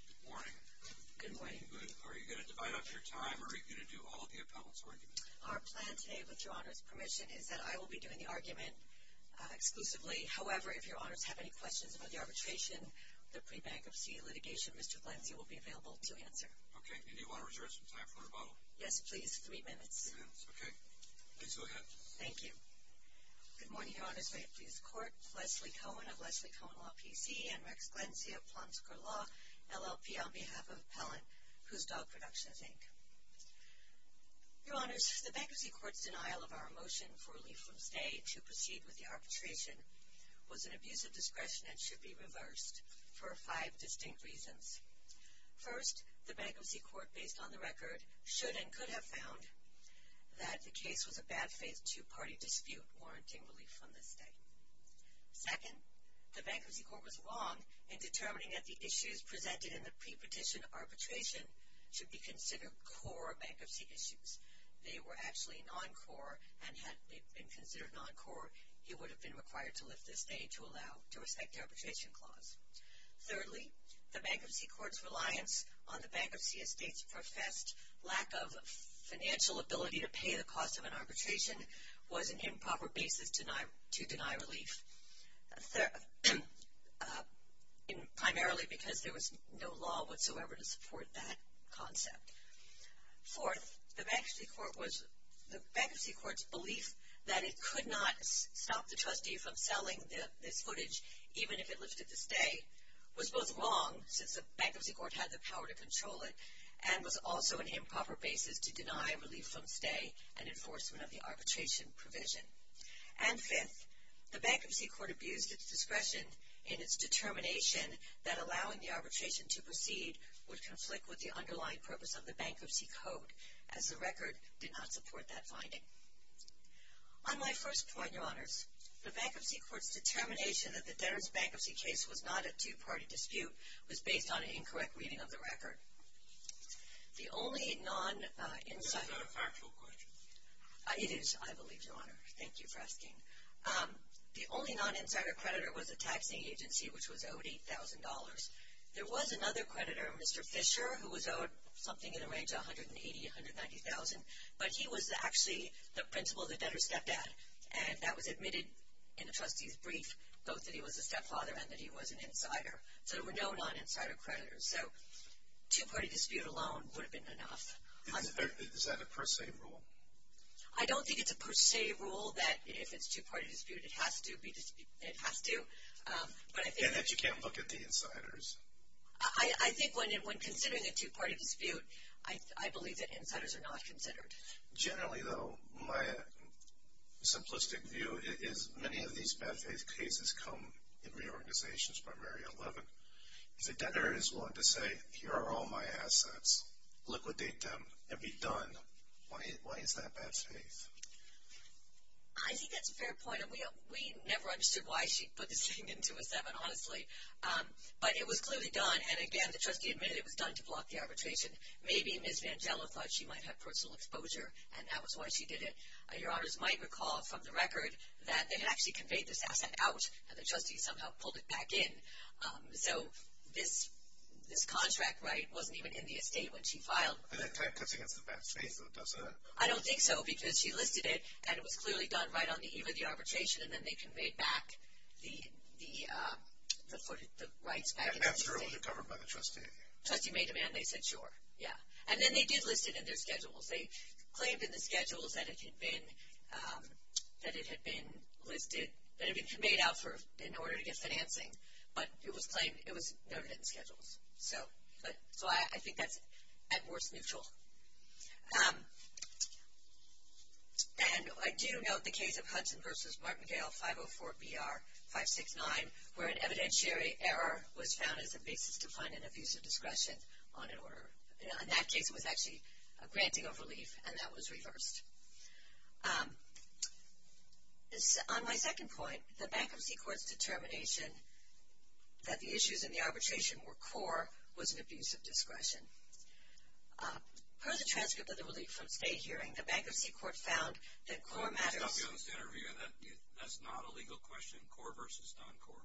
Good morning. Good morning. Are you going to divide up your time, or are you going to do all of the appellant's arguments? Our plan today, with Your Honor's permission, is that I will be doing the argument exclusively. However, if Your Honor has any questions about the arbitration, the pre-bankruptcy litigation, Mr. Glencia will be available to answer. Okay. And do you want to reserve some time for rebuttal? Yes, please. Three minutes. Three minutes. Okay. Please go ahead. Thank you. Good morning, Your Honors. May it please the Court. Leslie Cohen of Leslie Cohen Law, P.C., and Rex Glencia of Plum Square Law, LLP, on behalf of Appellant, Who's Dog Productions, Inc. Your Honors, the Bankruptcy Court's denial of our motion for relief from stay to proceed with the arbitration was an abuse of discretion and should be reversed for five distinct reasons. First, the Bankruptcy Court, based on the record, should and could have found that the case was a bad-faith two-party dispute warranting relief from the stay. Second, the Bankruptcy Court was wrong in determining that the issues presented in the pre-petition arbitration should be considered core bankruptcy issues. They were actually non-core, and had they been considered non-core, you would have been required to lift the stay to respect the arbitration clause. Thirdly, the Bankruptcy Court's reliance on the bankruptcy estate's professed lack of financial ability to pay the cost of an arbitration was an improper basis to deny relief, primarily because there was no law whatsoever to support that concept. Fourth, the Bankruptcy Court's belief that it could not stop the trustee from selling this footage, even if it lifted the stay, was both wrong, since the Bankruptcy Court had the power to control it, and was also an improper basis to deny relief from stay and enforcement of the arbitration provision. And fifth, the Bankruptcy Court abused its discretion in its determination that allowing the arbitration to proceed would conflict with the underlying purpose of the Bankruptcy Code, as the record did not support that finding. On my first point, Your Honors, the Bankruptcy Court's determination that the Dennis Bankruptcy case was not a two-party dispute was based on an incorrect reading of the record. The only non-insider... This is not a factual question. It is, I believe, Your Honor. Thank you for asking. The only non-insider creditor was a taxing agency, which was owed $8,000. There was another creditor, Mr. Fisher, who was owed something in the range of $180,000, $190,000, but he was actually the principal of the debtor's stepdad, and that was admitted in the trustee's brief, both that he was a stepfather and that he was an insider. So there were no non-insider creditors. So two-party dispute alone would have been enough. Is that a per se rule? I don't think it's a per se rule that if it's a two-party dispute, it has to be disputed. It has to, but I think... And that you can't look at the insiders. I think when considering a two-party dispute, I believe that insiders are not considered. Generally, though, my simplistic view is many of these bad faith cases come in reorganizations by Mary 11. If the debtor is willing to say, here are all my assets, liquidate them, and be done, why is that bad faith? I think that's a fair point, and we never understood why she put this thing into a seven, honestly. But it was clearly done, and again, the trustee admitted it was done to block the arbitration. Maybe Ms. Vangello thought she might have personal exposure, and that was why she did it. Your honors might recall from the record that they had actually conveyed this asset out, and the trustee somehow pulled it back in. So this contract right wasn't even in the estate when she filed. And that kind of cuts against the bad faith, though, doesn't it? I don't think so, because she listed it, and it was clearly done right on the eve of the arbitration, and then they conveyed back the rights back into the estate. And that's really covered by the trustee? The trustee made demand. They said, sure, yeah. And then they did list it in their schedules. They claimed in the schedules that it had been listed, that it had been made out in order to get financing, but it was claimed it was never in the schedules. So I think that's at worst neutral. And I do note the case of Hudson v. Martindale 504-BR-569, where an evidentiary error was found as a basis to find an abuse of discretion on an order. In that case, it was actually a granting of relief, and that was reversed. On my second point, the bankruptcy court's determination that the issues in the arbitration were core was an abuse of discretion. Per the transcript of the relief from state hearing, the bankruptcy court found that core matters. That's not a legal question? Core versus non-core?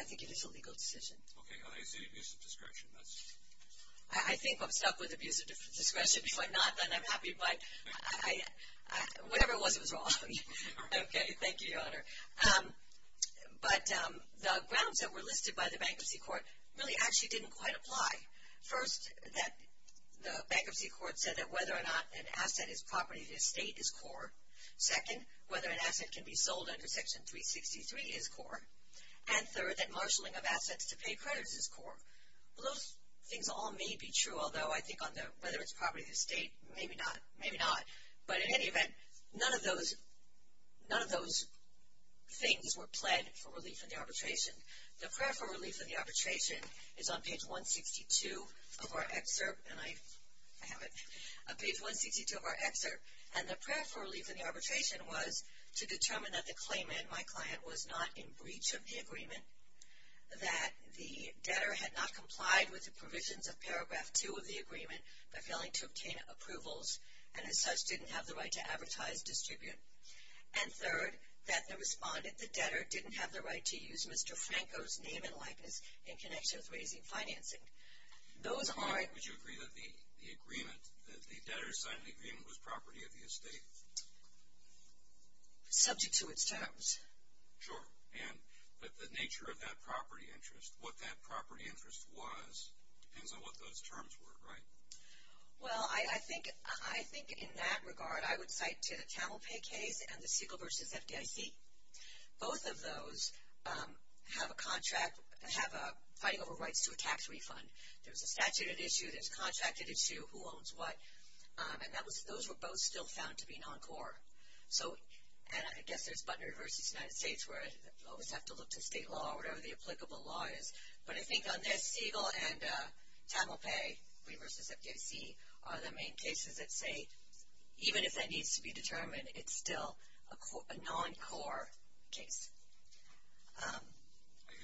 I think it is a legal decision. Okay. I see abuse of discretion. I think I'm stuck with abuse of discretion. If I'm not, then I'm happy, but whatever it was, it was wrong. Okay. Thank you, Your Honor. But the grounds that were listed by the bankruptcy court really actually didn't quite apply. First, the bankruptcy court said that whether or not an asset is property to the state is core. Second, whether an asset can be sold under Section 363 is core. And third, that marshaling of assets to pay creditors is core. Those things all may be true, although I think on the whether it's property to the state, maybe not. Maybe not. But in any event, none of those things were pled for relief in the arbitration. The prayer for relief in the arbitration is on page 162 of our excerpt. And I have it. Page 162 of our excerpt. And the prayer for relief in the arbitration was to determine that the claimant, my client, was not in breach of the agreement, that the debtor had not complied with the provisions of Paragraph 2 of the agreement by failing to obtain approvals and, as such, didn't have the right to advertise, distribute. And third, that the respondent, the debtor, didn't have the right to use Mr. Franco's name and likeness in connection with raising financing. Those aren't. Would you agree that the agreement, that the debtor signed the agreement was property of the estate? Subject to its terms. Sure. And the nature of that property interest, what that property interest was, depends on what those terms were, right? Well, I think in that regard, I would cite to the Tamilpay case and the Siegel v. FDIC. Both of those have a contract, have a fighting over rights to a tax refund. There's a statute at issue, there's a contract at issue, who owns what. And those were both still found to be non-core. So, and I guess there's Butner v. United States where you always have to look to state law or whatever the applicable law is. But I think on this, Siegel and Tamilpay v. FDIC are the main cases that say, even if that needs to be determined, it's still a non-core case.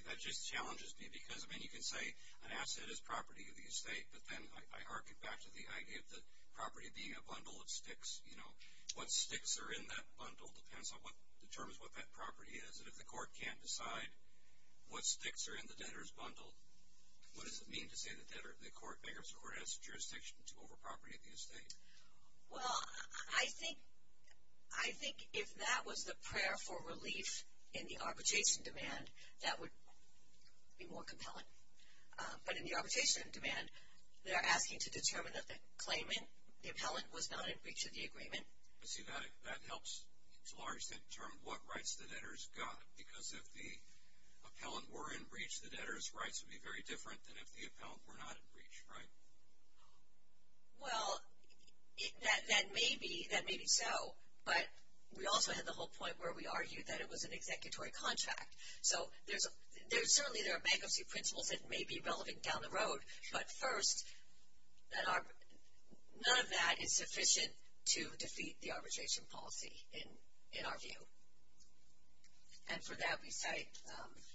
That just challenges me because, I mean, you can say an asset is property of the estate, but then I hark it back to the idea of the property being a bundle of sticks. You know, what sticks are in that bundle depends on what determines what that property is. And if the court can't decide what sticks are in the debtor's bundle, what does it mean to say the court has jurisdiction over property of the estate? Well, I think if that was the prayer for relief in the arbitration demand, that would be more compelling. But in the arbitration demand, they're asking to determine that the claimant, the appellant, was not in breach of the agreement. I see that. That helps to a large extent determine what rights the debtor's got. Because if the appellant were in breach, the debtor's rights would be very different than if the appellant were not in breach, right? Well, that may be so. But we also had the whole point where we argued that it was an executory contract. So certainly there are bankruptcy principles that may be relevant down the road. But first, none of that is sufficient to defeat the arbitration policy in our view. And for that we say.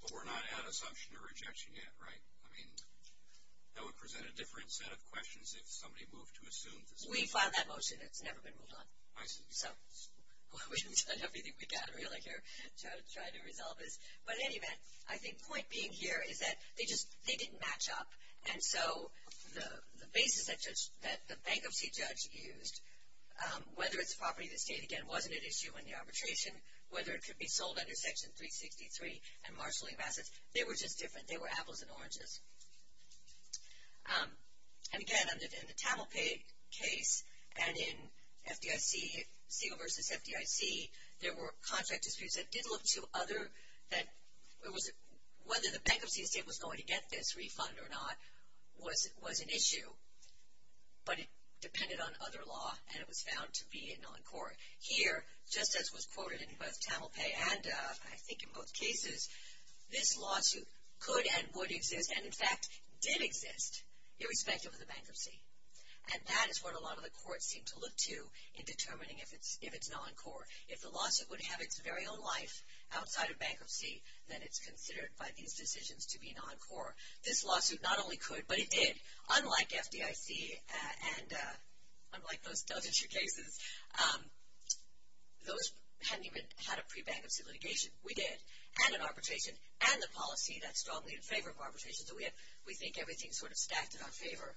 But we're not at assumption or rejection yet, right? I mean, that would present a different set of questions if somebody moved to assume. We filed that motion. It's never been moved on. I see. So we've done everything we can really here to try to resolve this. But in any event, I think the point being here is that they didn't match up. And so the basis that the bankruptcy judge used, whether it's property of the state, again, wasn't an issue in the arbitration, whether it could be sold under Section 363 and marshaling of assets, they were just different. They were apples and oranges. And, again, in the Tamil case and in FEMA versus FDIC, there were contract disputes that did look to other that it was whether the bankruptcy state was going to get this refund or not was an issue. But it depended on other law, and it was found to be a non-core. Here, just as was quoted in both Tamil Pei and I think in both cases, this lawsuit could and would exist and, in fact, did exist irrespective of the bankruptcy. And that is what a lot of the courts seem to look to in determining if it's non-core. If the lawsuit would have its very own life outside of bankruptcy, then it's considered by these decisions to be non-core. This lawsuit not only could, but it did. Unlike FDIC and unlike those other two cases, those hadn't even had a pre-bankruptcy litigation. We did. And an arbitration. And the policy that's strongly in favor of arbitration. So we think everything's sort of stacked in our favor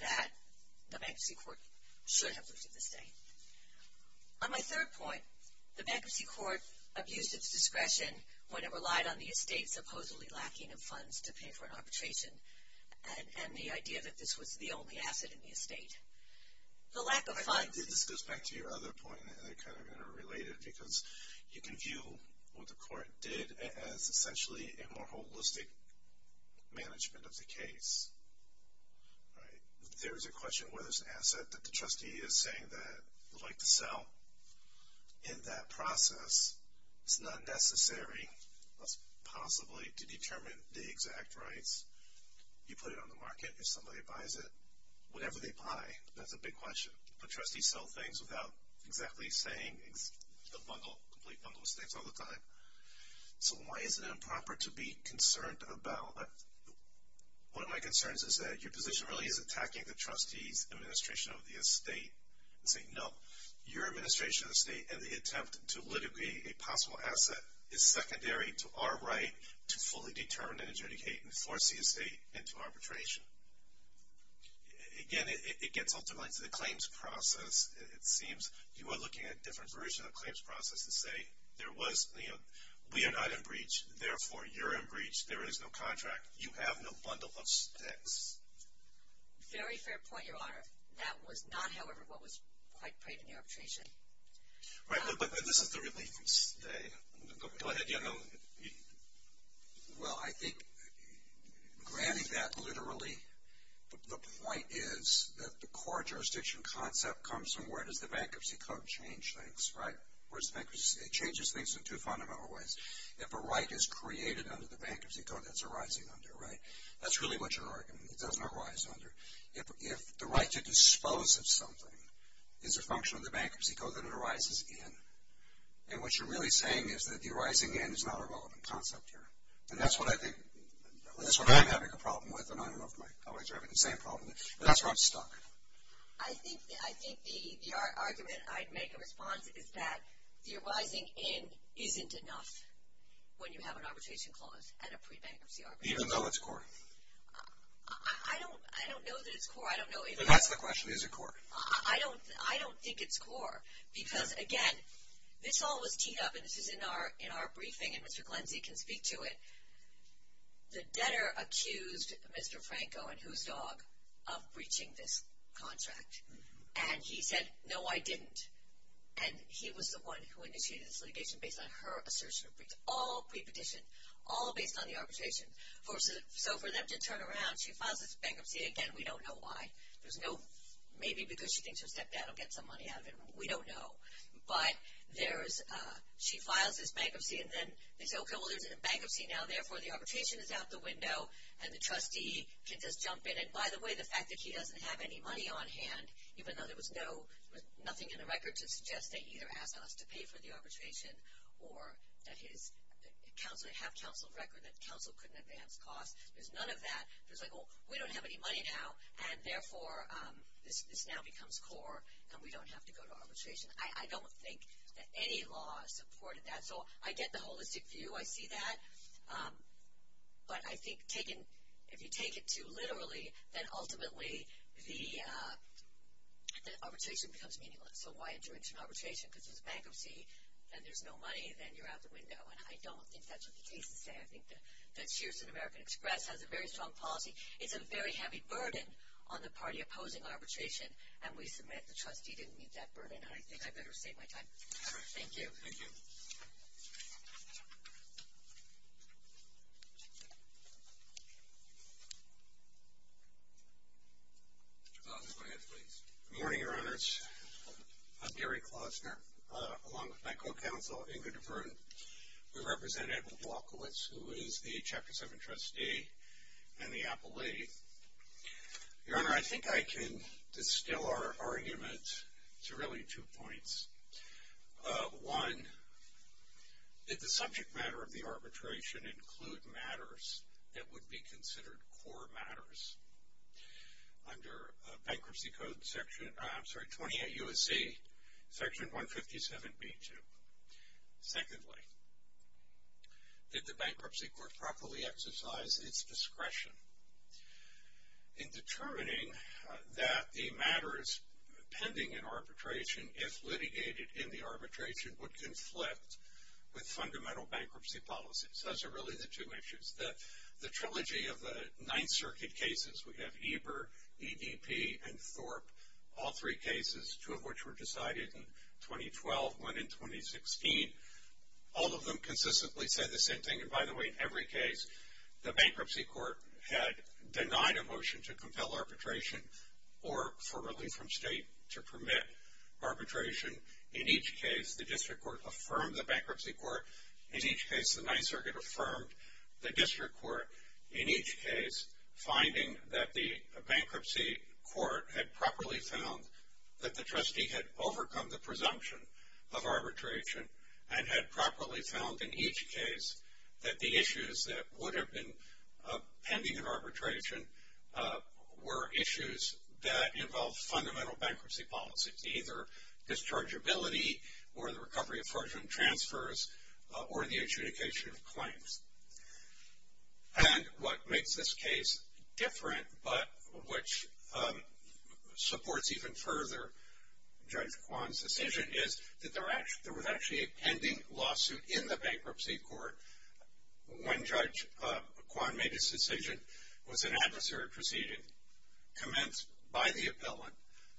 that the bankruptcy court should have lifted this thing. On my third point, the bankruptcy court abused its discretion when it relied on the estate supposedly lacking in funds to pay for an arbitration. And the idea that this was the only asset in the estate. The lack of funds. This goes back to your other point, and they're kind of interrelated, because you can view what the court did as essentially a more holistic management of the case. There is a question whether it's an asset that the trustee is saying that they'd like to sell. In that process, it's not necessary, unless possibly, to determine the exact rights. You put it on the market. If somebody buys it, whatever they buy, that's a big question. But trustees sell things without exactly saying the bundle, complete bundle of states all the time. So why is it improper to be concerned about that? One of my concerns is that your position really is attacking the trustee's administration of the estate and saying, no, your administration of the estate and the attempt to litigate a possible asset is secondary to our right to fully determine and adjudicate and force the estate into arbitration. Again, it gets ultimately to the claims process. It seems you are looking at a different version of the claims process to say there was, you know, we are not in breach. Therefore, you're in breach. There is no contract. You have no bundle of states. Very fair point, Your Honor. That was not, however, what was quite prayed in the arbitration. Right, but this is the relief from state. Go ahead, General. Well, I think, granted that literally the point is that the core jurisdiction concept comes from where does the bankruptcy code change things, right? It changes things in two fundamental ways. If a right is created under the bankruptcy code, that's a rising under, right? That's really what you're arguing. It doesn't arise under. If the right to dispose of something is a function of the bankruptcy code, then it arises in. And what you're really saying is that the arising end is not a relevant concept here. And that's what I think, that's what I'm having a problem with, and I don't know if my colleagues are having the same problem. But that's where I'm stuck. I think the argument I'd make in response is that the arising end isn't enough when you have an arbitration clause and a pre-bankruptcy arbitration clause. Even though it's core? I don't know that it's core. I don't know. That's the question. Is it core? I don't think it's core. Because, again, this all was teed up, and this is in our briefing, and Mr. Glenzie can speak to it. The debtor accused Mr. Franco and his dog of breaching this contract. And he said, no, I didn't. And he was the one who initiated this litigation based on her assertion of breach. All pre-petition, all based on the arbitration. So for them to turn around, she files this bankruptcy, again, we don't know why. Maybe because she thinks her stepdad will get some money out of it. We don't know. But she files this bankruptcy, and then they say, okay, well, there's a bankruptcy now. Therefore, the arbitration is out the window, and the trustee can just jump in. And, by the way, the fact that he doesn't have any money on hand, even though there was nothing in the record to suggest that he either asked us to pay for the arbitration or have counsel record that counsel couldn't advance costs. There's none of that. There's like, oh, we don't have any money now, and, therefore, this now becomes core, and we don't have to go to arbitration. I don't think that any law supported that. So I get the holistic view. I see that. But I think if you take it too literally, then ultimately the arbitration becomes meaningless. So why adjourn to an arbitration? Because there's a bankruptcy, and there's no money, and then you're out the window. And I don't think that's what the cases say. I think that Sears and American Express has a very strong policy. It's a very heavy burden on the party opposing arbitration, and we submit the trustee didn't meet that burden, and I think I better save my time. Thank you. Thank you. Go ahead, please. Good morning, Your Honors. I'm Gary Klausner, along with my co-counsel, Ingrid Verden. We represent Edwin Walkowitz, who is the Chapter 7 trustee, and the appellee. Your Honor, I think I can distill our argument to really two points. One, did the subject matter of the arbitration include matters that would be considered core matters? Under Bankruptcy Code Section, I'm sorry, 28 U.S.C., Section 157B2. Secondly, did the Bankruptcy Court properly exercise its discretion in determining that the matters pending an arbitration, if litigated in the arbitration, would conflict with fundamental bankruptcy policies? Those are really the two issues. The trilogy of the Ninth Circuit cases, we have Eber, EDP, and Thorpe, all three cases, two of which were decided in 2012, one in 2016. All of them consistently said the same thing. And, by the way, in every case, the Bankruptcy Court had denied a motion to compel arbitration or for relief from state to permit arbitration. In each case, the District Court affirmed the Bankruptcy Court. In each case, the Ninth Circuit affirmed the District Court. In each case, finding that the Bankruptcy Court had properly found that the trustee had overcome the presumption of arbitration and had properly found, in each case, that the issues that would have been pending an arbitration were issues that involved fundamental bankruptcy policies, either dischargeability or the recovery of fortune transfers or the adjudication of claims. And what makes this case different but which supports even further Judge Kwan's decision is that there was actually a pending lawsuit in the Bankruptcy Court when Judge Kwan made his decision was an adversary proceeding commenced by the appellant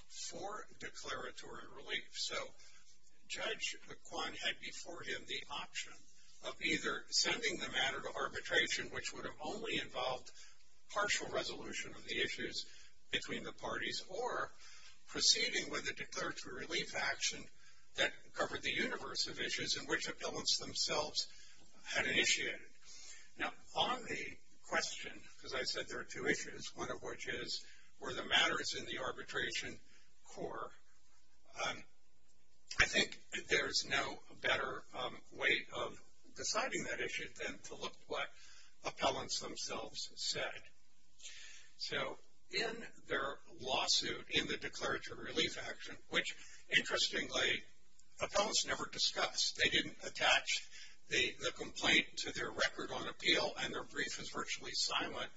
for declaratory relief. So, Judge Kwan had before him the option of either sending the matter to arbitration, which would have only involved partial resolution of the issues between the parties, or proceeding with a declaratory relief action that covered the universe of issues in which appellants themselves had initiated. Now, on the question, because I said there are two issues, one of which is were the matters in the arbitration core, I think there's no better way of deciding that issue than to look what appellants themselves said. So, in their lawsuit, in the declaratory relief action, which interestingly, appellants never discuss. They didn't attach the complaint to their record on appeal and their brief is virtually silent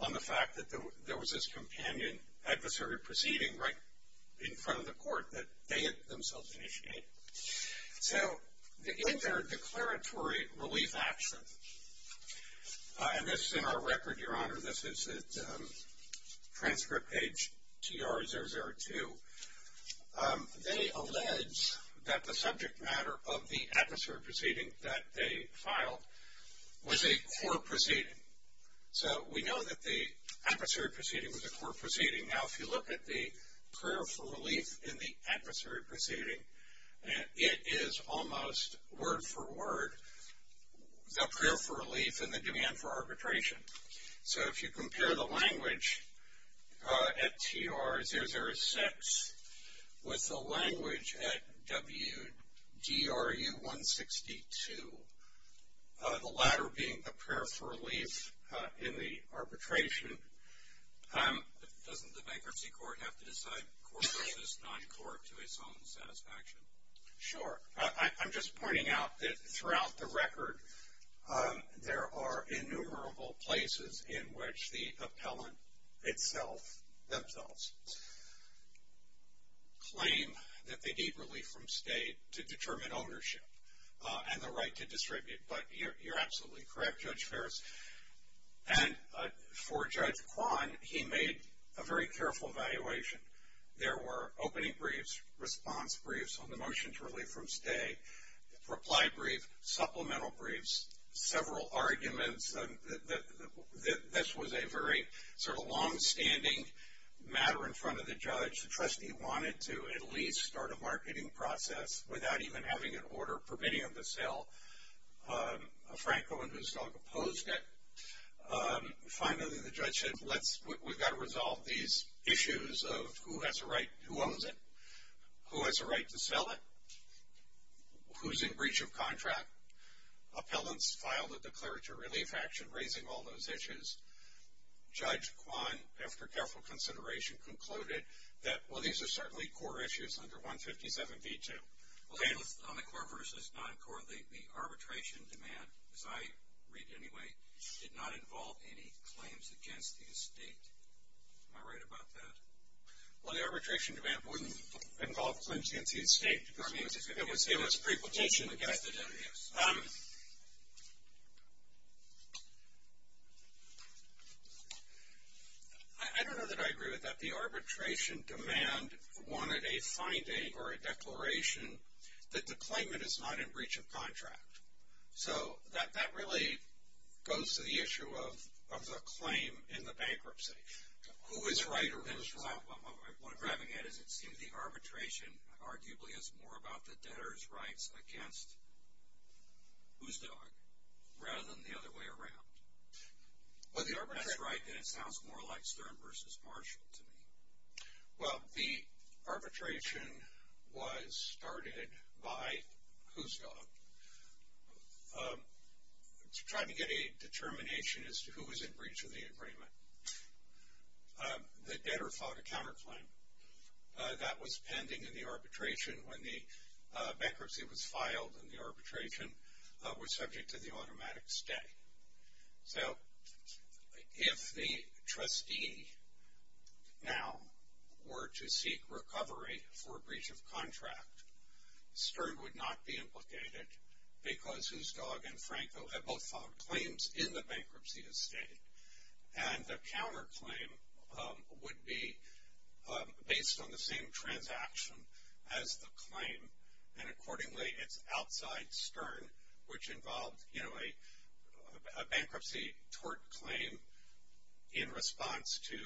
on the fact that there was this companion adversary proceeding right in front of the court that they themselves initiated. So, in their declaratory relief action, and this is in our record, Your Honor, this is at transcript page TR002, they allege that the subject matter of the adversary proceeding that they filed was a core proceeding. So, we know that the adversary proceeding was a core proceeding. Now, if you look at the prayer for relief in the adversary proceeding, it is almost word for word, the prayer for relief and the demand for arbitration. So, if you compare the language at TR006 with the language at WDRU162, the latter being the prayer for relief in the arbitration. Doesn't the bankruptcy court have to decide core versus non-core to its own satisfaction? Sure. I'm just pointing out that throughout the record, there are innumerable places in which the appellant itself, themselves, claim that they need relief from state to determine ownership and the right to distribute. But you're absolutely correct, Judge Ferris. And for Judge Kwan, he made a very careful evaluation. There were opening briefs, response briefs on the motion to relieve from state, reply brief, supplemental briefs, several arguments. This was a very sort of longstanding matter in front of the judge. The trustee wanted to at least start a marketing process without even having an order permitting him to sell a Franco and whose dog opposed it. Finally, the judge said, we've got to resolve these issues of who has a right, who owns it, who has a right to sell it, who's in breach of contract. Appellants filed a declaratory relief action raising all those issues. Judge Kwan, after careful consideration, concluded that, well, these are certainly core issues under 157B2. Well, on the core versus non-core, the arbitration demand, as I read it anyway, did not involve any claims against the estate. Am I right about that? Well, the arbitration demand wouldn't involve claims against the estate. It was pre-petition against it. I don't know that I agree with that. The arbitration demand wanted a finding or a declaration that the claimant is not in breach of contract. So that really goes to the issue of the claim in the bankruptcy. Who is right or who is wrong? What I'm grabbing at is it seems the arbitration arguably is more about the debtor's rights against whose dog rather than the other way around. That's right. And it sounds more like Stern versus Marshall to me. Well, the arbitration was started by whose dog? Trying to get a determination as to who was in breach of the agreement. The debtor filed a counterclaim. That was pending in the arbitration when the bankruptcy was filed and the arbitration was subject to the automatic stay. So if the trustee now were to seek recovery for breach of contract, Stern would not be implicated because whose dog and Franco have both filed claims in the bankruptcy estate. And the counterclaim would be based on the same transaction as the claim, and accordingly it's outside Stern, which involved, you know, a bankruptcy tort claim in response to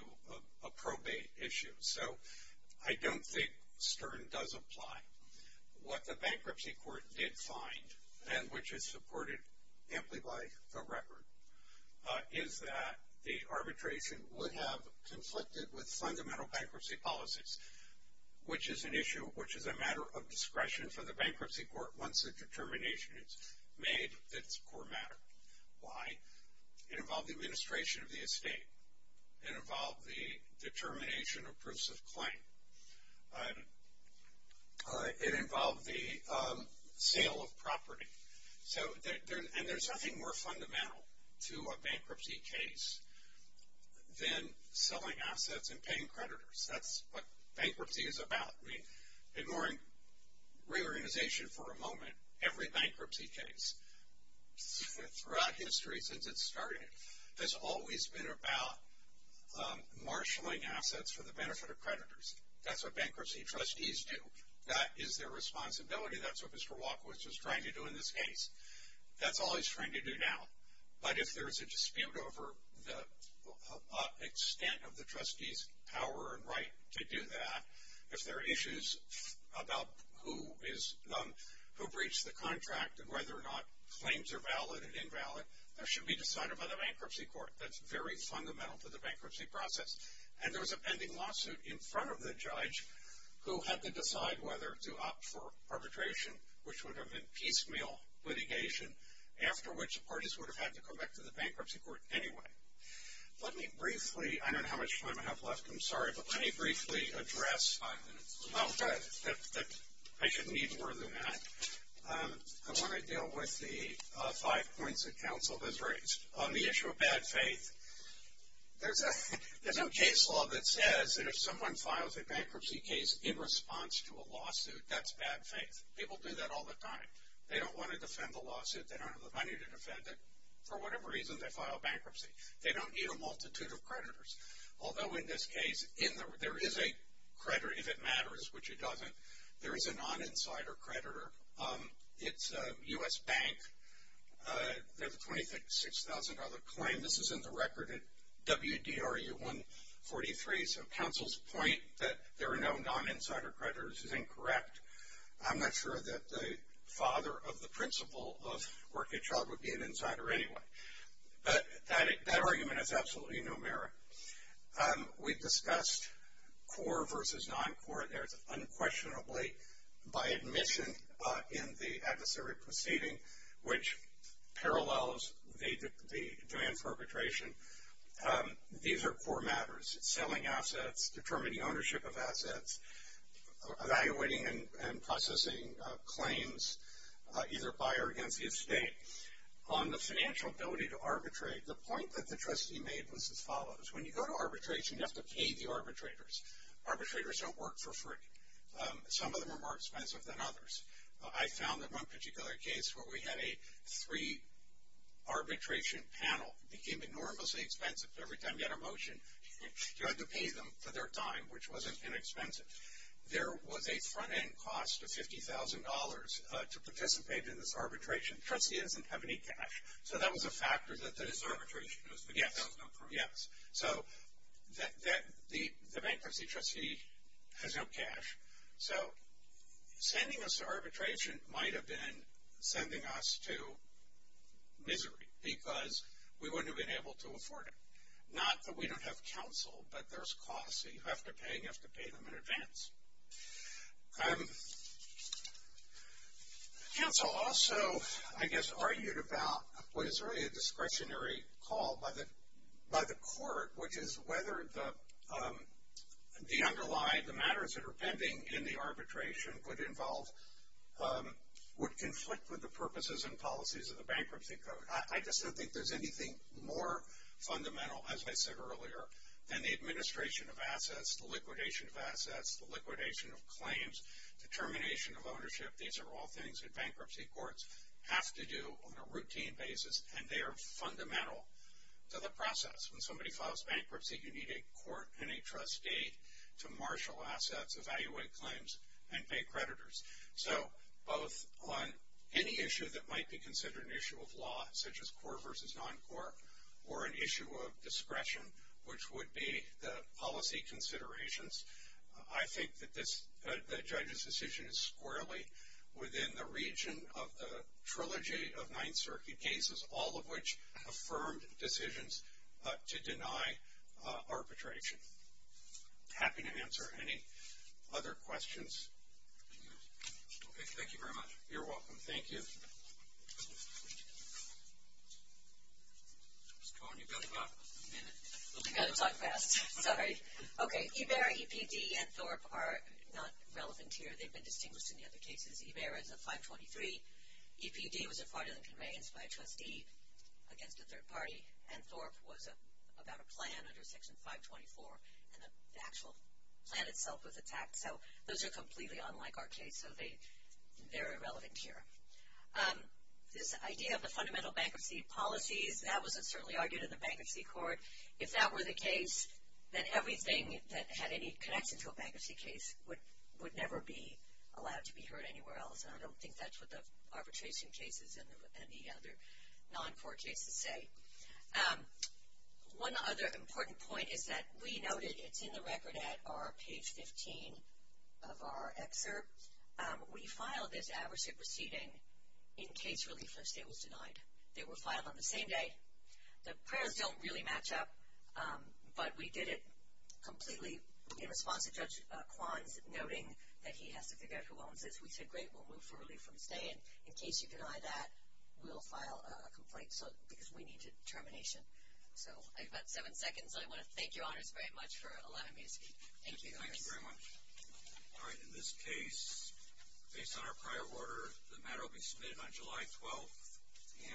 a probate issue. So I don't think Stern does apply. What the bankruptcy court did find, and which is supported amply by the record, is that the arbitration would have conflicted with fundamental bankruptcy policies, which is an issue which is a matter of discretion for the bankruptcy court once a determination is made that it's a core matter. Why? It involved the administration of the estate. It involved the determination of proofs of claim. It involved the sale of property. And there's nothing more fundamental to a bankruptcy case than selling assets and paying creditors. That's what bankruptcy is about. I mean, ignoring reorganization for a moment, every bankruptcy case throughout history since it started has always been about marshaling assets for the benefit of creditors. That's what bankruptcy trustees do. That is their responsibility. That's what Mr. Walker was just trying to do in this case. That's all he's trying to do now. But if there's a dispute over the extent of the trustee's power and right to do that, if there are issues about who breached the contract and whether or not claims are valid and invalid, that should be decided by the bankruptcy court. That's very fundamental to the bankruptcy process. And there was a pending lawsuit in front of the judge who had to decide whether to opt for arbitration, which would have been piecemeal litigation, after which the parties would have had to go back to the bankruptcy court anyway. Let me briefly, I don't know how much time I have left. I'm sorry, but let me briefly address. Five minutes. Oh, good. I shouldn't need more than that. I want to deal with the five points that counsel has raised. On the issue of bad faith, there's no case law that says that if someone files a bankruptcy case in response to a lawsuit, that's bad faith. People do that all the time. They don't want to defend the lawsuit. They don't have the money to defend it. For whatever reason, they file bankruptcy. They don't need a multitude of creditors. Although in this case, there is a creditor, if it matters, which it doesn't. There is a non-insider creditor. It's a U.S. bank. They have a $26,000 claim. This is in the record at WDRU 143. So counsel's point that there are no non-insider creditors is incorrect. I'm not sure that the father of the principle of working child would be an insider anyway. But that argument is absolutely numeric. We discussed core versus non-core. There's unquestionably by admission in the adversary proceeding, which parallels the demand perpetration, these are core matters, selling assets, determining ownership of assets, evaluating and processing claims either by or against the estate. On the financial ability to arbitrate, the point that the trustee made was as follows. When you go to arbitration, you have to pay the arbitrators. Arbitrators don't work for free. Some of them are more expensive than others. I found that one particular case where we had a three-arbitration panel became enormously expensive. Every time we had a motion, you had to pay them for their time, which wasn't inexpensive. There was a front-end cost of $50,000 to participate in this arbitration. The trustee doesn't have any cash. So that was a factor that this arbitration was not approved. Yes. So the bankruptcy trustee has no cash. So sending us to arbitration might have been sending us to misery because we wouldn't have been able to afford it. Not that we don't have counsel, but there's costs that you have to pay. You have to pay them in advance. Counsel also, I guess, argued about what is really a discretionary call by the court, which is whether the underlying, the matters that are pending in the arbitration would involve, would conflict with the purposes and policies of the bankruptcy code. I just don't think there's anything more fundamental, as I said earlier, than the administration of assets, the liquidation of assets, the liquidation of claims, the termination of ownership. These are all things that bankruptcy courts have to do on a routine basis, and they are fundamental to the process. When somebody files bankruptcy, you need a court and a trustee to marshal assets, evaluate claims, and pay creditors. So both on any issue that might be considered an issue of law, such as court versus non-court, or an issue of discretion, which would be the policy considerations, I think that the judge's decision is squarely within the region of the trilogy of Ninth Circuit cases, all of which affirmed decisions to deny arbitration. Happy to answer any other questions. Thank you very much. You're welcome. Thank you. Ms. Cohen, you've got about a minute. I've got to talk fast. Sorry. Okay. EBERA, EPD, and THORP are not relevant here. They've been distinguished in the other cases. EBERA is a 523. EPD was a farther than conveyance by a trustee against a third party, and THORP was about a plan under Section 524, and the actual plan itself was attacked. So those are completely unlike our case, so they're irrelevant here. This idea of the fundamental bankruptcy policies, that was certainly argued in the bankruptcy court. If that were the case, then everything that had any connection to a bankruptcy case would never be allowed to be heard anywhere else, and I don't think that's what the arbitration cases and the other non-court cases say. One other important point is that we noted it's in the record at page 15 of our excerpt. We filed this adversary proceeding in case Relief First State was denied. They were filed on the same day. The prayers don't really match up, but we did it completely in response to Judge Kwan's noting that he has to figure out who owns this. We said, great, we'll move for Relief First State, and in case you deny that, we'll file a complaint because we need determination. So I've got seven seconds, and I want to thank you, Honors, very much for a lot of music. Thank you, Honors. Thank you very much. All right, in this case, based on our prior order, the matter will be submitted on July 12th,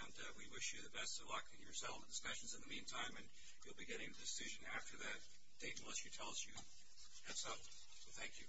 and we wish you the best of luck in your settlement discussions in the meantime, and you'll be getting a decision after that date unless she tells you. That's all. Thank you.